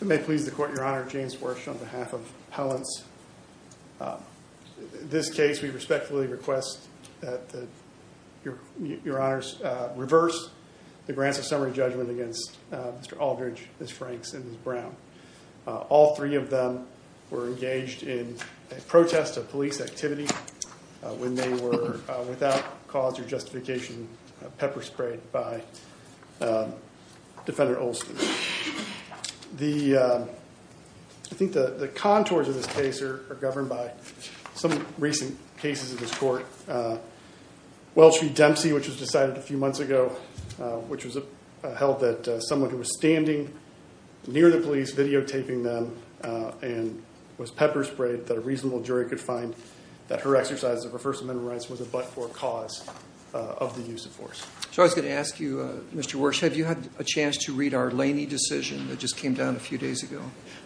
May it please the Court, Your Honor, James Worsh on behalf of Appellants. In this case we respectfully request that Your Honors reverse the Grants of Summary Judgment against Mr. Aldridge, Ms. Franks, and Ms. Brown. All three of them were engaged in a protest of police activity when they were, without cause or justification, pepper sprayed by Defendant Olson. I think the contours of this case are governed by some recent cases in this Court. Welch v. Dempsey, which was decided a few months ago, which was held that someone who was standing near the police videotaping them and was pepper sprayed, that a reasonable jury could find that her exercise of her First Amendment rights was a but-for cause of the use of force. So I was going to ask you, Mr. Worsh, have you had a chance to read our Laney decision that just came down a few days ago?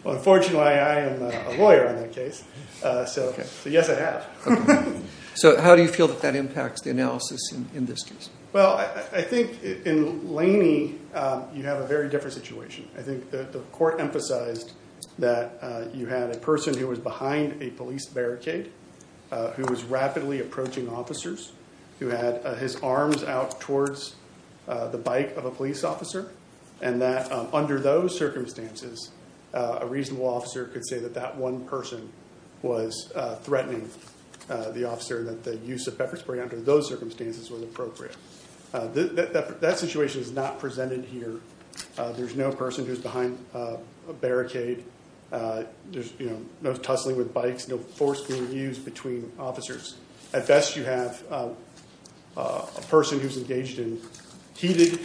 Well, unfortunately I am a lawyer on that case, so yes I have. So how do you feel that that impacts the analysis in this case? Well, I think in Laney you have a very different situation. I think the Court emphasized that you had a person who was behind a police barricade, who was rapidly approaching officers, who had his arms out towards the bike of a police officer, and that under those circumstances a reasonable officer could say that that one person was threatening the officer and that the use of pepper spray under those circumstances was appropriate. That situation is not presented here. There's no person who's behind a barricade. There's no tussling with bikes, no force being used between officers. At best you have a person who's engaged in heated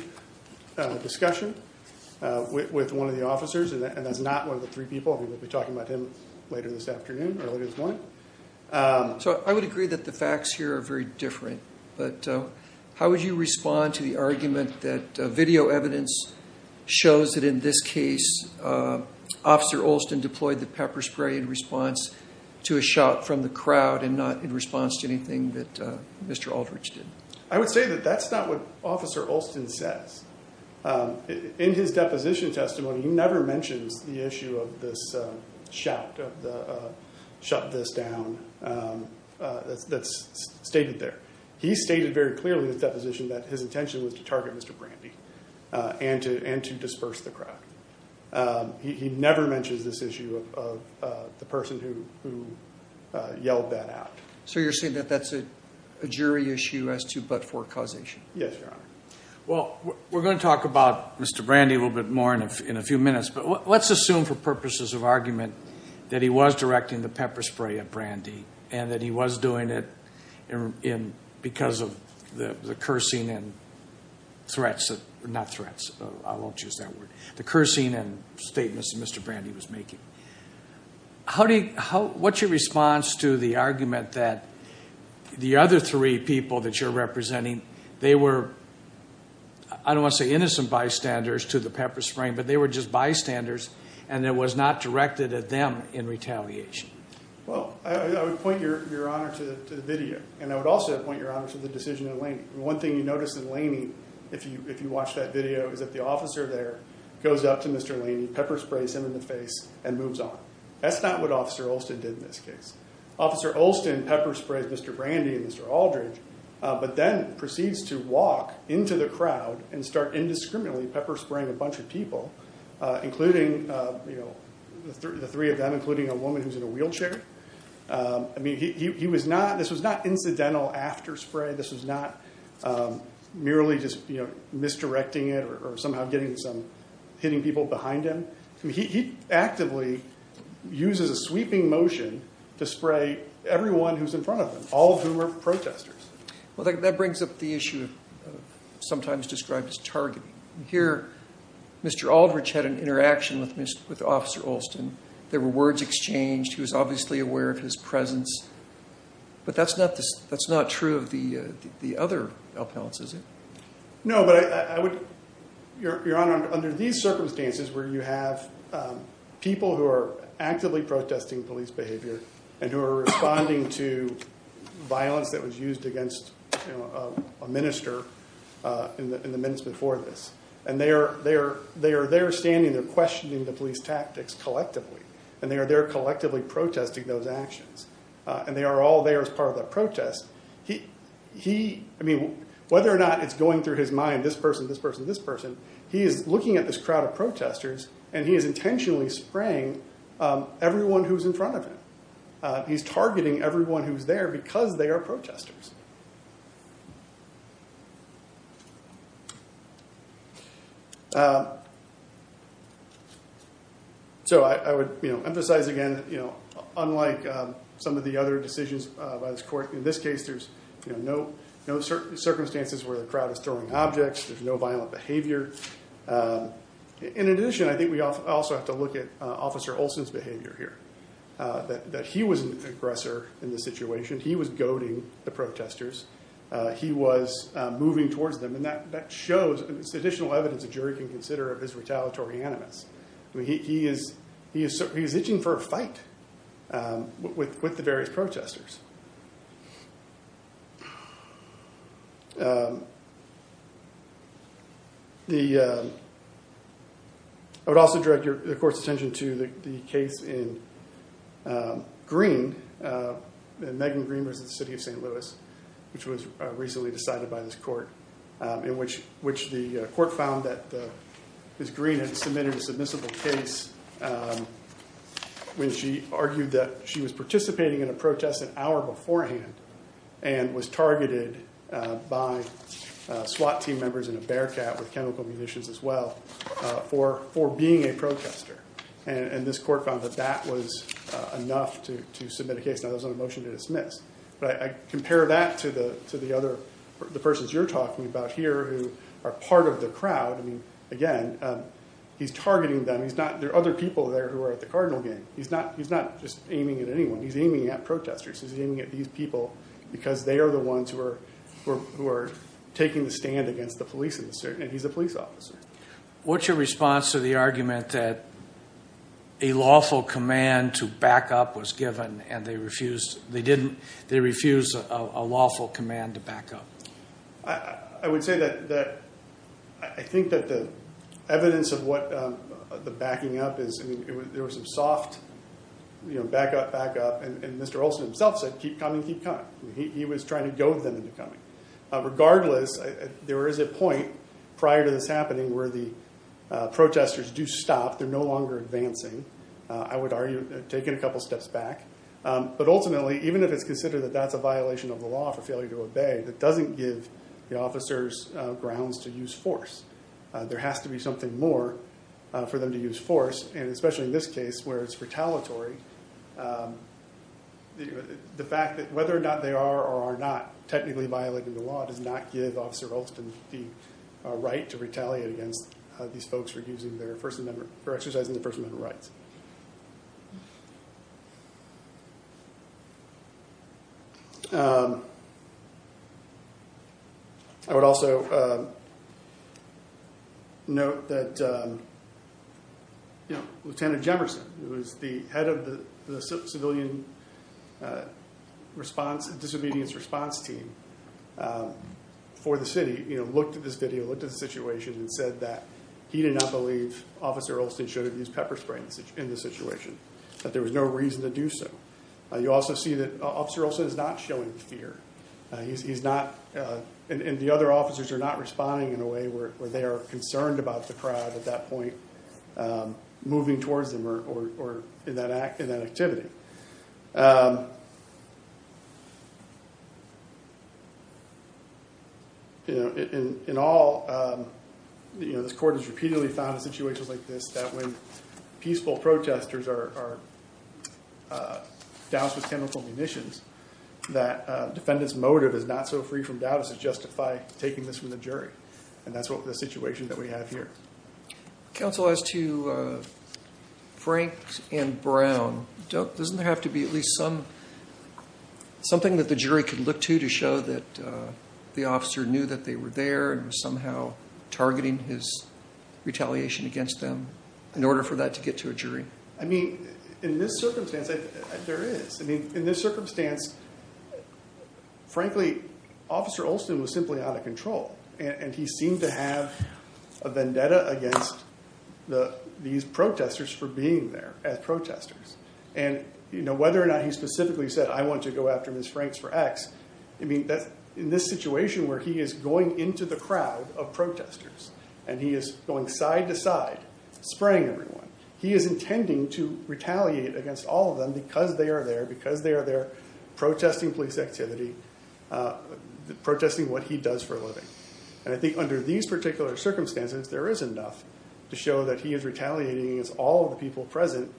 discussion with one of the officers, and that's not one of the three people. We'll be talking about him later this afternoon or later this morning. So I would agree that the facts here are very different, but how would you respond to the argument that video evidence shows that in this case Officer Olson deployed the pepper spray in response to a shout from the crowd and not in response to anything that Mr. Aldridge did? I would say that that's not what Officer Olson says. In his deposition testimony he never mentions the issue of this shout, of the shut this down, that's stated there. He stated very clearly in his deposition that his intention was to target Mr. Brandy and to disperse the crowd. He never mentions this issue of the person who yelled that out. So you're saying that that's a jury issue as to but-for causation? Yes, Your Honor. Well, we're going to talk about Mr. Brandy a little bit more in a few minutes, but let's assume for purposes of argument that he was directing the pepper spray at Brandy and that he was doing it because of the cursing and statements that Mr. Brandy was making. What's your response to the argument that the other three people that you're representing, they were, I don't want to say innocent bystanders to the pepper spray, but they were just bystanders and it was not directed at them in retaliation? Well, I would point Your Honor to the video and I would also point Your Honor to the decision in Laney. One thing you notice in Laney, if you watch that video, is that the officer there goes up to Mr. Laney, pepper sprays him in the face and moves on. That's not what Officer Olson did in this case. Officer Olson pepper sprays Mr. Brandy and Mr. Aldridge, but then proceeds to walk into the crowd and start indiscriminately pepper spraying a bunch of people, including the three of them, including a woman who's in a wheelchair. I mean, he was not, this was not incidental after spray. This was not merely just misdirecting it or somehow getting some hitting people behind him. He actively uses a sweeping motion to spray everyone who's in front of him, all of whom are protesters. Well, that brings up the issue of sometimes described as targeting. Here, Mr. Aldridge had an interaction with Officer Olson. There were words exchanged. He was obviously aware of his presence, but that's not true of the other appellants, is it? No, but I would, Your Honor, under these circumstances where you have people who are actively protesting police behavior and who are responding to violence that was used against a minister in the minutes before this. And they are there standing, they're questioning the police tactics collectively, and they are there collectively protesting those actions. And they are all there as part of the protest. He, I mean, whether or not it's going through his mind, this person, this person, this person, he is looking at this crowd of protesters and he is intentionally spraying everyone who's in front of him. He's targeting everyone who's there because they are protesters. So I would emphasize again, unlike some of the other decisions by this court, in this case, there's no circumstances where the crowd is throwing objects. There's no violent behavior. In addition, I think we also have to look at Officer Olson's behavior here, that he was an aggressor in this situation. He was goading the protesters. He was moving towards them. And that shows, it's additional evidence a jury can consider of his retaliatory animus. He is itching for a fight with the various protesters. I would also direct the court's attention to the case in Greene, Megan Greene versus the city of St. Louis, which was recently decided by this court, in which the court found that Ms. Greene had submitted a submissible case when she argued that she was participating in a protest an hour beforehand and was targeted by SWAT team members in a bearcat with chemical munitions. As well for being a protester. And this court found that that was enough to submit a case. Now there's no motion to dismiss, but I compare that to the other persons you're talking about here who are part of the crowd. Again, he's targeting them. There are other people there who are at the cardinal game. He's not just aiming at anyone. He's aiming at protesters. He's aiming at these people because they are the ones who are taking the stand against the police. And he's a police officer. What's your response to the argument that a lawful command to back up was given and they refused a lawful command to back up? I would say that I think that the evidence of what the backing up is, there was some soft back up, back up. And Mr. Olson himself said, keep coming, keep coming. He was trying to goad them into coming. Regardless, there is a point prior to this happening where the protesters do stop. They're no longer advancing. I would argue take it a couple steps back. But ultimately, even if it's considered that that's a violation of the law for failure to obey, that doesn't give the officers grounds to use force. There has to be something more for them to use force. And especially in this case where it's retaliatory, the fact that whether or not they are or are not technically violating the law does not give Officer Olson the right to retaliate against these folks for exercising their First Amendment rights. I would also note that, you know, Lieutenant Jemerson, who is the head of the civilian response and disobedience response team for the city, you know, looked at this video, looked at the situation and said that he did not believe Officer Olson should have used pepper spray in the situation. That there was no reason to do so. You also see that Officer Olson is not showing fear. He's not, and the other officers are not responding in a way where they are concerned about the crowd at that point moving towards them or in that activity. You know, in all, you know, this court has repeatedly found in situations like this that when peaceful protesters are doused with chemical munitions, that defendant's motive is not so free from doubt as to justify taking this from the jury. And that's the situation that we have here. Counsel, as to Frank and Brown, doesn't there have to be at least something that the jury could look to to show that the officer knew that they were there and was somehow targeting his retaliation against them in order for that to get to a jury? I mean, in this circumstance, there is. I mean, in this circumstance, frankly, Officer Olson was simply out of control and he seemed to have a vendetta against these protesters for being there as protesters. And, you know, whether or not he specifically said, I want to go after Ms. Franks for X. I mean, in this situation where he is going into the crowd of protesters and he is going side to side, spraying everyone, he is intending to retaliate against all of them because they are there, because they are there protesting police activity, protesting what he does for a living. And I think under these particular circumstances, there is enough to show that he is retaliating against all of the people present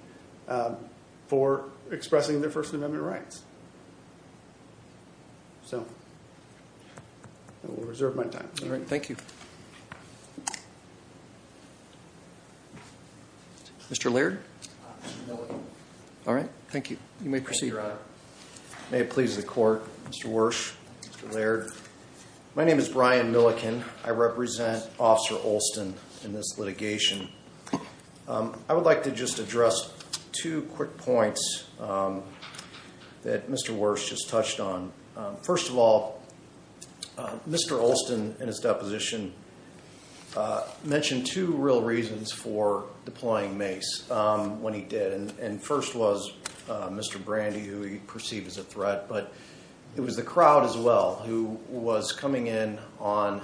for expressing their First Amendment rights. So I will reserve my time. All right. Thank you. Mr. Laird. All right. Thank you. You may proceed. May it please the court. Mr. Worsh, Mr. Laird. My name is Brian Milliken. I represent Officer Olson in this litigation. I would like to just address two quick points that Mr. Worsh just touched on. First of all, Mr. Olson in his deposition mentioned two real reasons for deploying mace when he did. And first was Mr. Brandy, who he perceived as a threat. But it was the crowd as well who was coming in on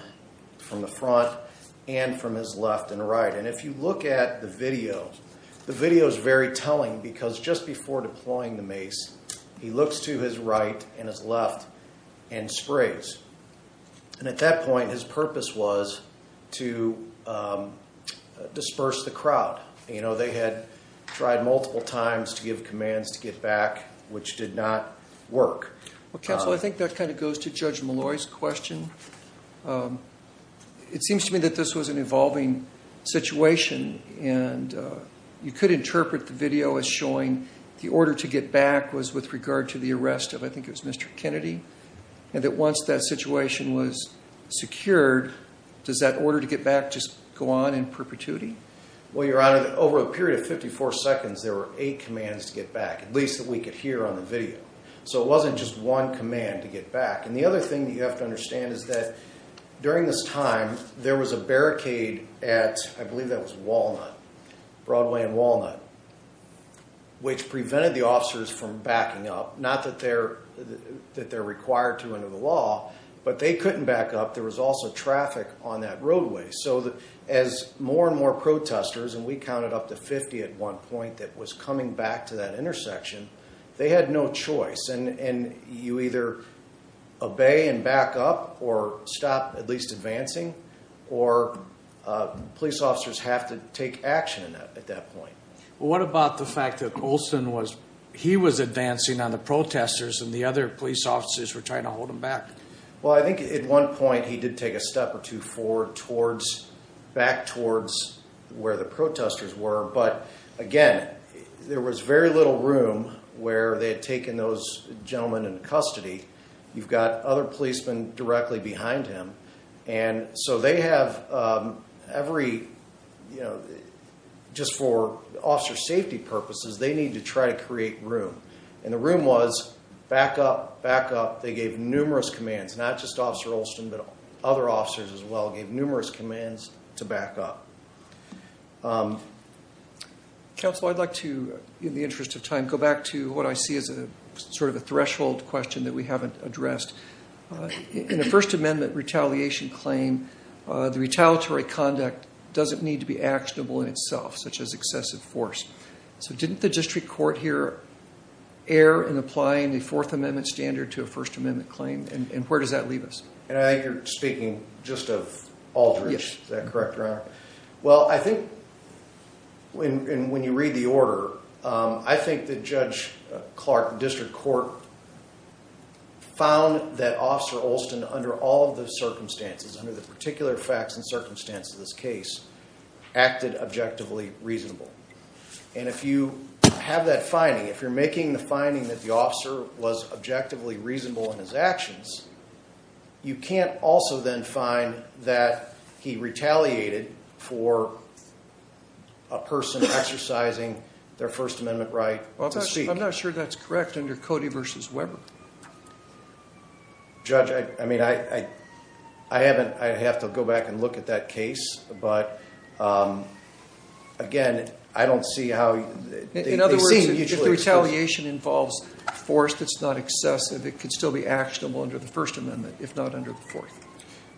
from the front and from his left and right. And if you look at the video, the video is very telling because just before deploying the mace, he looks to his right and his left and sprays. And at that point, his purpose was to disperse the crowd. You know, they had tried multiple times to give commands to get back, which did not work. Well, counsel, I think that kind of goes to Judge Malloy's question. It seems to me that this was an evolving situation and you could interpret the video as showing the order to get back was with regard to the arrest of I think it was Mr. Kennedy. And that once that situation was secured, does that order to get back just go on in perpetuity? Well, Your Honor, over a period of 54 seconds, there were eight commands to get back, at least that we could hear on the video. So it wasn't just one command to get back. And the other thing that you have to understand is that during this time, there was a barricade at, I believe that was Walnut, Broadway and Walnut, which prevented the officers from backing up. Not that they're required to under the law, but they couldn't back up. There was also traffic on that roadway. So as more and more protesters, and we counted up to 50 at one point that was coming back to that intersection, they had no choice. And you either obey and back up or stop at least advancing or police officers have to take action at that point. What about the fact that Olson was, he was advancing on the protesters and the other police officers were trying to hold him back? Well, I think at one point he did take a step or two forward towards back towards where the protesters were. But again, there was very little room where they had taken those gentlemen into custody. You've got other policemen directly behind him. And so they have every, you know, just for officer safety purposes, they need to try to create room. And the room was back up, back up. They gave numerous commands, not just officer Olson, but other officers as well gave numerous commands to back up. Counsel, I'd like to, in the interest of time, go back to what I see as a sort of a threshold question that we haven't addressed. In the First Amendment retaliation claim, the retaliatory conduct doesn't need to be actionable in itself, such as excessive force. So didn't the district court here err in applying the Fourth Amendment standard to a First Amendment claim? And where does that leave us? And I think you're speaking just of Aldridge, is that correct, Your Honor? Yes. You can't also then find that he retaliated for a person exercising their First Amendment right to speak. I'm not sure that's correct under Cody versus Weber. Judge, I mean, I, I haven't, I'd have to go back and look at that case. But again, I don't see how... In other words, if the retaliation involves force that's not excessive, it could still be actionable under the First Amendment, if not under the Fourth.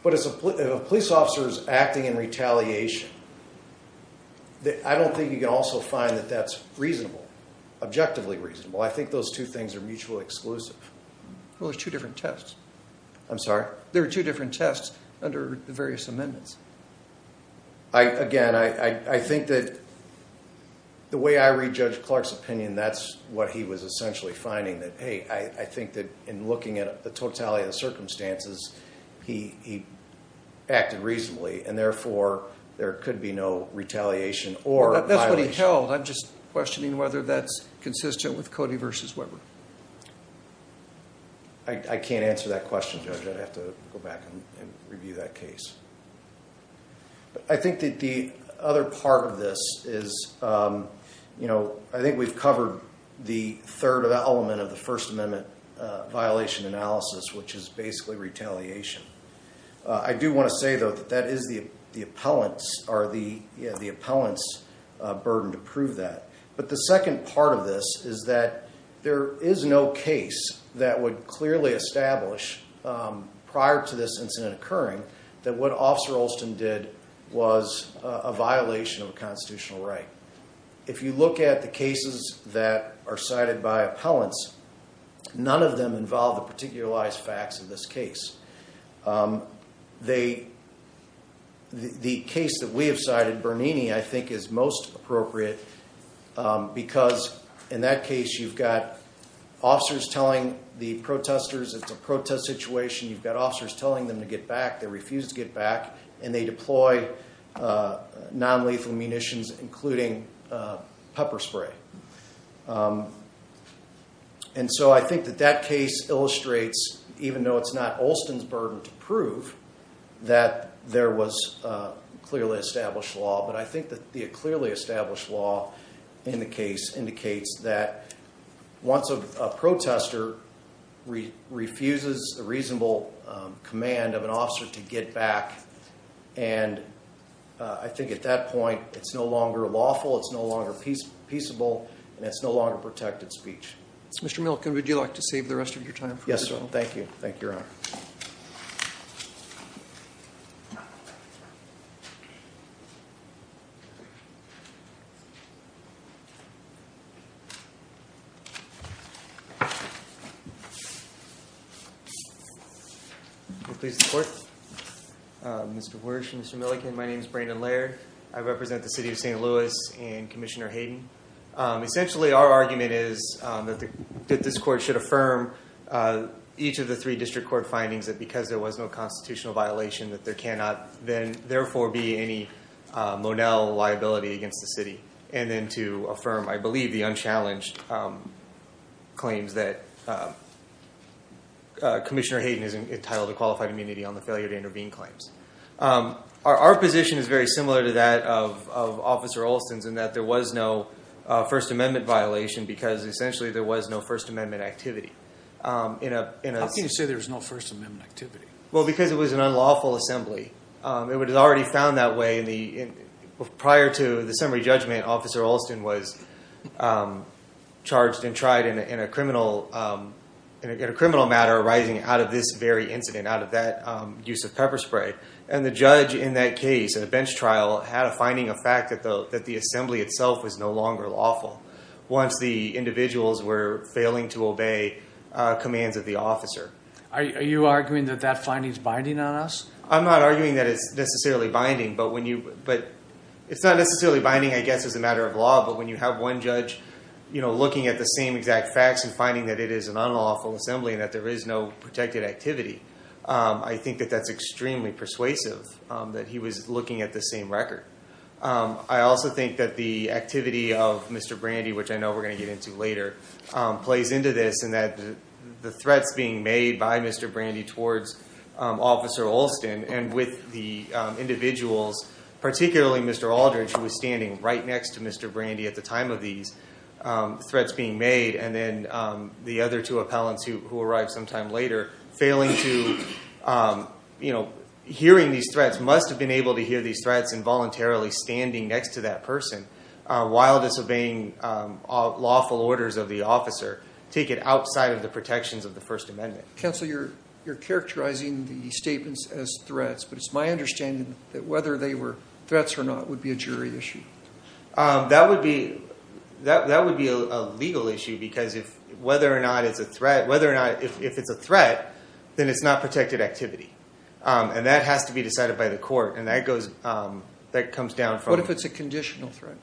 But if a police officer is acting in retaliation, I don't think you can also find that that's reasonable, objectively reasonable. I think those two things are mutually exclusive. Well, there's two different tests. I'm sorry? There are two different tests under the various amendments. Again, I think that the way I read Judge Clark's opinion, that's what he was essentially finding that, hey, I think that in looking at the totality of the circumstances, he acted reasonably, and therefore there could be no retaliation or violation. That's what he held. I'm just questioning whether that's consistent with Cody versus Weber. I can't answer that question, Judge. I'd have to go back and review that case. I think that the other part of this is, you know, I think we've covered the third element of the First Amendment violation analysis, which is basically retaliation. I do want to say, though, that that is the appellant's burden to prove that. But the second part of this is that there is no case that would clearly establish prior to this incident occurring that what Officer Olson did was a violation of a constitutional right. If you look at the cases that are cited by appellants, none of them involve the particularized facts of this case. The case that we have cited, Bernini, I think is most appropriate because in that case, you've got officers telling the protesters it's a protest situation. You've got officers telling them to get back. They refuse to get back, and they deploy nonlethal munitions, including pepper spray. And so I think that that case illustrates, even though it's not Olson's burden to prove, that there was clearly established law. But I think that the clearly established law in the case indicates that once a protester refuses the reasonable command of an officer to get back, and I think at that point, it's no longer lawful, it's no longer peaceable, and it's no longer protected speech. Mr. Milken, would you like to save the rest of your time? Yes, sir. Thank you. Thank you, Your Honor. Mr. Wersch, Mr. Milken, my name is Brandon Laird. I represent the city of St. Louis and Commissioner Hayden. Essentially, our argument is that this court should affirm each of the three district court findings that because there was no constitutional violation, that there cannot then therefore be any Lonell liability against the city. And then to affirm, I believe, the unchallenged claims that Commissioner Hayden is entitled to qualified immunity on the failure to intervene claims. Our position is very similar to that of Officer Olson's in that there was no First Amendment violation because essentially there was no First Amendment activity. How can you say there was no First Amendment activity? Well, because it was an unlawful assembly. It was already found that way. Prior to the summary judgment, Officer Olson was charged and tried in a criminal matter arising out of this very incident, out of that use of pepper spray. And the judge in that case, in a bench trial, had a finding of fact that the assembly itself was no longer lawful once the individuals were failing to obey commands of the officer. Are you arguing that that finding is binding on us? I'm not arguing that it's necessarily binding. But it's not necessarily binding, I guess, as a matter of law. But when you have one judge looking at the same exact facts and finding that it is an unlawful assembly and that there is no protected activity, I think that that's extremely persuasive that he was looking at the same record. I also think that the activity of Mr. Brandy, which I know we're going to get into later, plays into this and that the threats being made by Mr. Brandy towards Officer Olson and with the individuals, particularly Mr. Aldridge, who was standing right next to Mr. Brandy at the time of these threats being made, and then the other two appellants who arrived sometime later, failing to, you know, hearing these threats, must have been able to hear these threats involuntarily standing next to that person while disobeying lawful orders of the officer, take it outside of the protections of the First Amendment. Counsel, you're characterizing the statements as threats, but it's my understanding that whether they were threats or not would be a jury issue. That would be a legal issue, because whether or not it's a threat, then it's not protected activity. And that has to be decided by the court, and that comes down from... What if it's a conditional threat?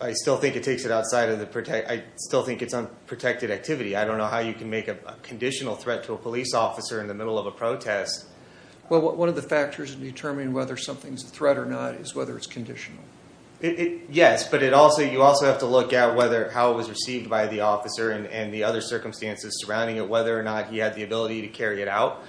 I still think it takes it outside of the... I still think it's unprotected activity. I don't know how you can make a conditional threat to a police officer in the middle of a protest. Well, one of the factors in determining whether something's a threat or not is whether it's conditional. Yes, but you also have to look at how it was received by the officer and the other circumstances surrounding it, whether or not he had the ability to carry it out,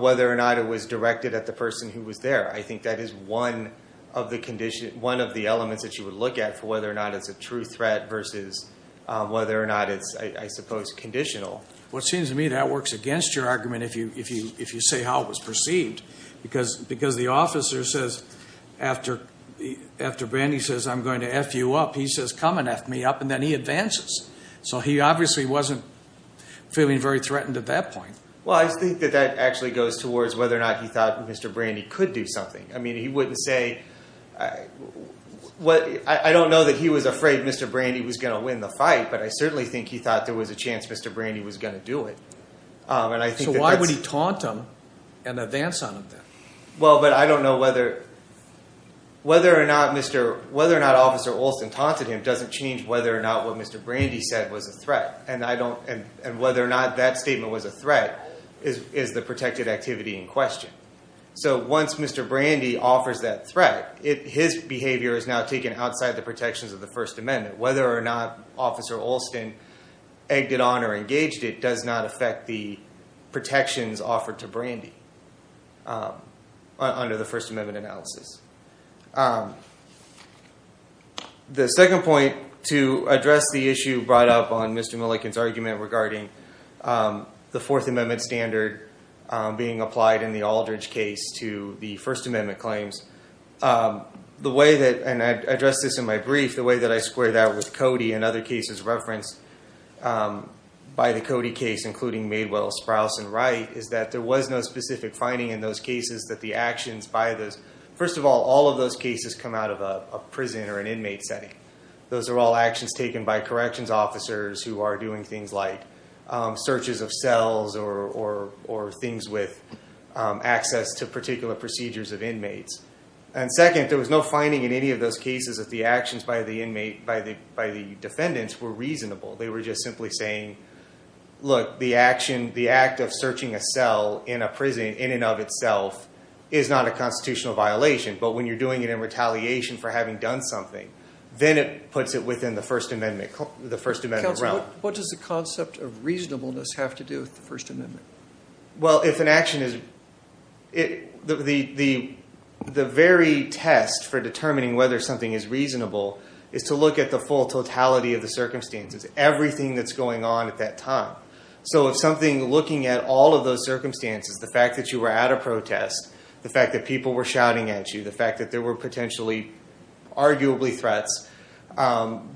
whether or not it was directed at the person who was there. I think that is one of the elements that you would look at for whether or not it's a true threat versus whether or not it's, I suppose, conditional. Well, it seems to me that works against your argument if you say how it was perceived, because the officer says, after Brandy says, I'm going to F you up, he says, come and F me up, and then he advances. So he obviously wasn't feeling very threatened at that point. Well, I think that that actually goes towards whether or not he thought Mr. Brandy could do something. I mean, he wouldn't say, I don't know that he was afraid Mr. Brandy was going to win the fight, but I certainly think he thought there was a chance Mr. Brandy was going to do it. So why would he taunt him and advance on him then? Well, but I don't know whether or not Officer Olson taunted him doesn't change whether or not what Mr. Brandy said was a threat, and whether or not that statement was a threat is the protected activity in question. So once Mr. Brandy offers that threat, his behavior is now taken outside the protections of the First Amendment. Whether or not Officer Olson egged it on or engaged it does not affect the protections offered to Brandy under the First Amendment analysis. The second point to address the issue brought up on Mr. Milliken's argument regarding the Fourth Amendment standard being applied in the Aldridge case to the First Amendment claims. The way that, and I addressed this in my brief, the way that I square that with Cody and other cases referenced by the Cody case, including Madewell, Sprouse, and Wright, is that there was no specific finding in those cases that the actions by those, first of all, all of those cases come out of a prison or an inmate setting. Those are all actions taken by corrections officers who are doing things like searches of cells or things with access to particular procedures of inmates. And second, there was no finding in any of those cases that the actions by the defendants were reasonable. They were just simply saying, look, the action, the act of searching a cell in a prison in and of itself is not a constitutional violation. But when you're doing it in retaliation for having done something, then it puts it within the First Amendment realm. Counsel, what does the concept of reasonableness have to do with the First Amendment? Well, if an action is, the very test for determining whether something is reasonable is to look at the full totality of the circumstances, everything that's going on at that time. So if something, looking at all of those circumstances, the fact that you were at a protest, the fact that people were shouting at you, the fact that there were potentially arguably threats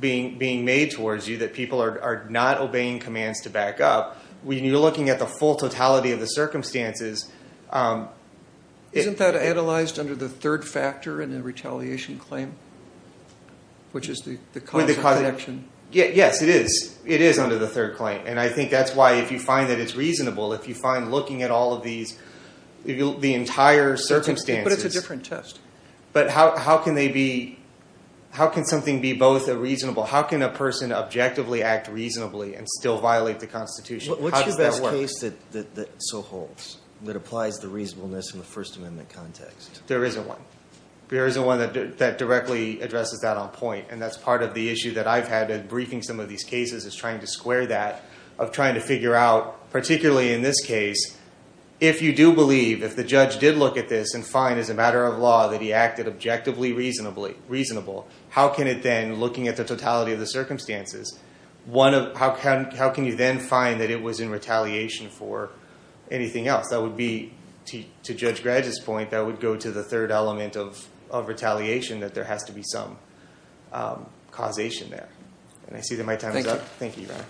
being made towards you, that people are not obeying commands to back up, when you're looking at the full totality of the circumstances... Isn't that analyzed under the third factor in a retaliation claim, which is the constant connection? Yes, it is. It is under the third claim. And I think that's why if you find that it's reasonable, if you find looking at all of these, the entire circumstances... But it's a different test. But how can they be, how can something be both a reasonable, how can a person objectively act reasonably and still violate the Constitution? What's your best case that so holds, that applies the reasonableness in the First Amendment context? There isn't one. There isn't one that directly addresses that on point. And that's part of the issue that I've had in briefing some of these cases is trying to square that, of trying to figure out, particularly in this case, if you do believe, if the judge did look at this and find, as a matter of law, that he acted objectively reasonable, how can it then, looking at the totality of the circumstances, how can you then find that it was in retaliation for anything else? That would be, to Judge Gradget's point, that would go to the third element of retaliation, that there has to be some causation there. And I see that my time is up. Thank you, Your Honor.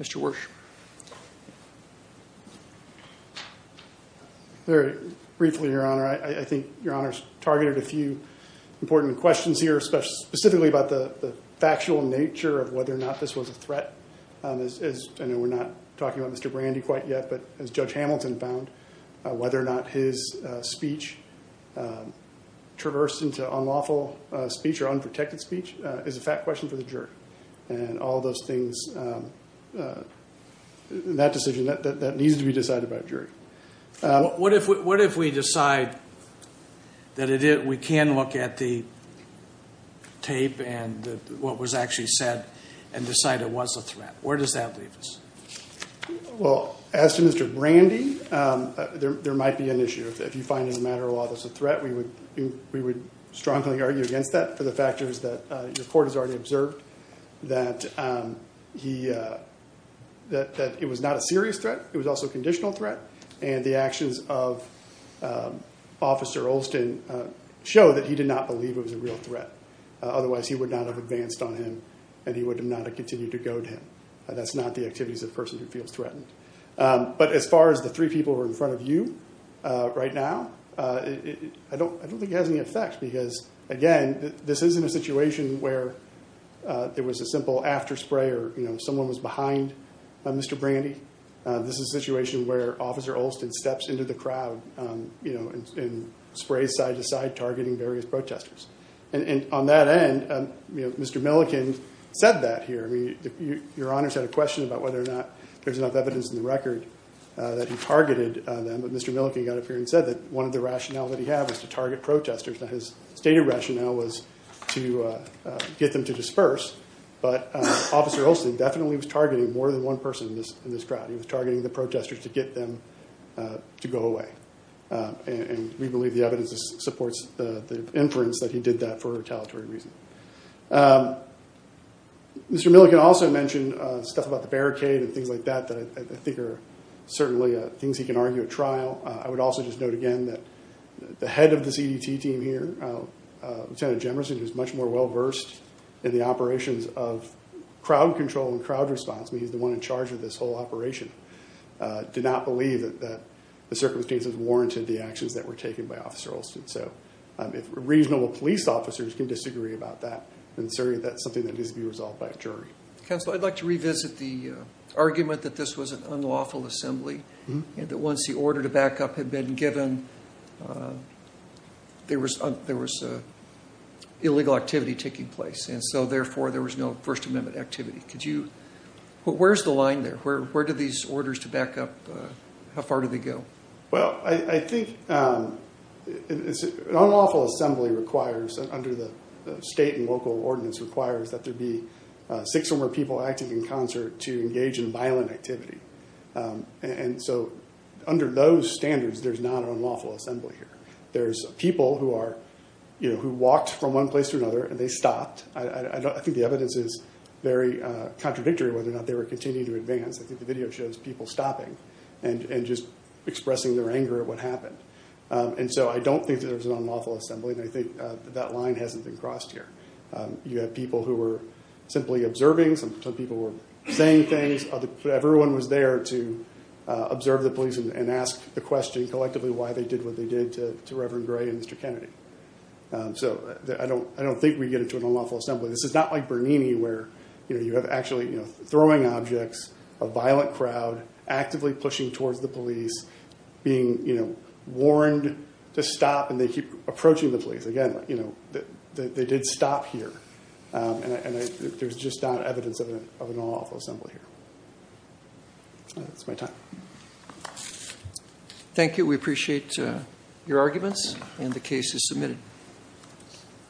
Mr. Wersch. Very briefly, Your Honor, I think Your Honor's targeted a few important questions here, specifically about the factual nature of whether or not this was a threat. I know we're not talking about Mr. Brandy quite yet, but as Judge Hamilton found, whether or not his speech traversed into unlawful speech or unprotected speech is a fact question for the jury. And all those things, that decision, that needs to be decided by a jury. What if we decide that we can look at the tape and what was actually said and decide it was a threat? Where does that leave us? Well, as to Mr. Brandy, there might be an issue. If you find in a matter of law that it's a threat, we would strongly argue against that for the factors that the court has already observed, that it was not a serious threat. It was also a conditional threat. And the actions of Officer Olson show that he did not believe it was a real threat. Otherwise, he would not have advanced on him and he would not have continued to goad him. That's not the activities of a person who feels threatened. But as far as the three people who are in front of you right now, I don't think it has any effect because, again, this isn't a situation where there was a simple after spray or someone was behind Mr. Brandy. This is a situation where Officer Olson steps into the crowd and sprays side to side, targeting various protesters. And on that end, Mr. Milliken said that here. Your Honor's had a question about whether or not there's enough evidence in the record that he targeted them. But Mr. Milliken got up here and said that one of the rationale that he had was to target protesters. His stated rationale was to get them to disperse. But Officer Olson definitely was targeting more than one person in this crowd. He was targeting the protesters to get them to go away. And we believe the evidence supports the inference that he did that for retaliatory reasons. Mr. Milliken also mentioned stuff about the barricade and things like that that I think are certainly things he can argue at trial. I would also just note again that the head of the CDT team here, Lieutenant Jemerson, who's much more well-versed in the operations of crowd control and crowd response, he's the one in charge of this whole operation, did not believe that the circumstances warranted the actions that were taken by Officer Olson. So if reasonable police officers can disagree about that, then certainly that's something that needs to be resolved by a jury. Counsel, I'd like to revisit the argument that this was an unlawful assembly, and that once the order to back up had been given, there was illegal activity taking place. And so therefore, there was no First Amendment activity. Where's the line there? Where do these orders to back up, how far do they go? Well, I think an unlawful assembly requires, under the state and local ordinance, requires that there be six or more people acting in concert to engage in violent activity. And so under those standards, there's not an unlawful assembly here. There's people who walked from one place to another, and they stopped. I think the evidence is very contradictory whether or not they were continuing to advance. I think the video shows people stopping and just expressing their anger at what happened. And so I don't think that there was an unlawful assembly, and I think that line hasn't been crossed here. You have people who were simply observing. Some people were saying things. Everyone was there to observe the police and ask the question collectively why they did what they did to Reverend Gray and Mr. Kennedy. So I don't think we get into an unlawful assembly. This is not like Bernini where you have actually throwing objects, a violent crowd actively pushing towards the police, being warned to stop, and they keep approaching the police. Again, they did stop here, and there's just not evidence of an unlawful assembly here. That's my time. Thank you. We appreciate your arguments, and the case is submitted.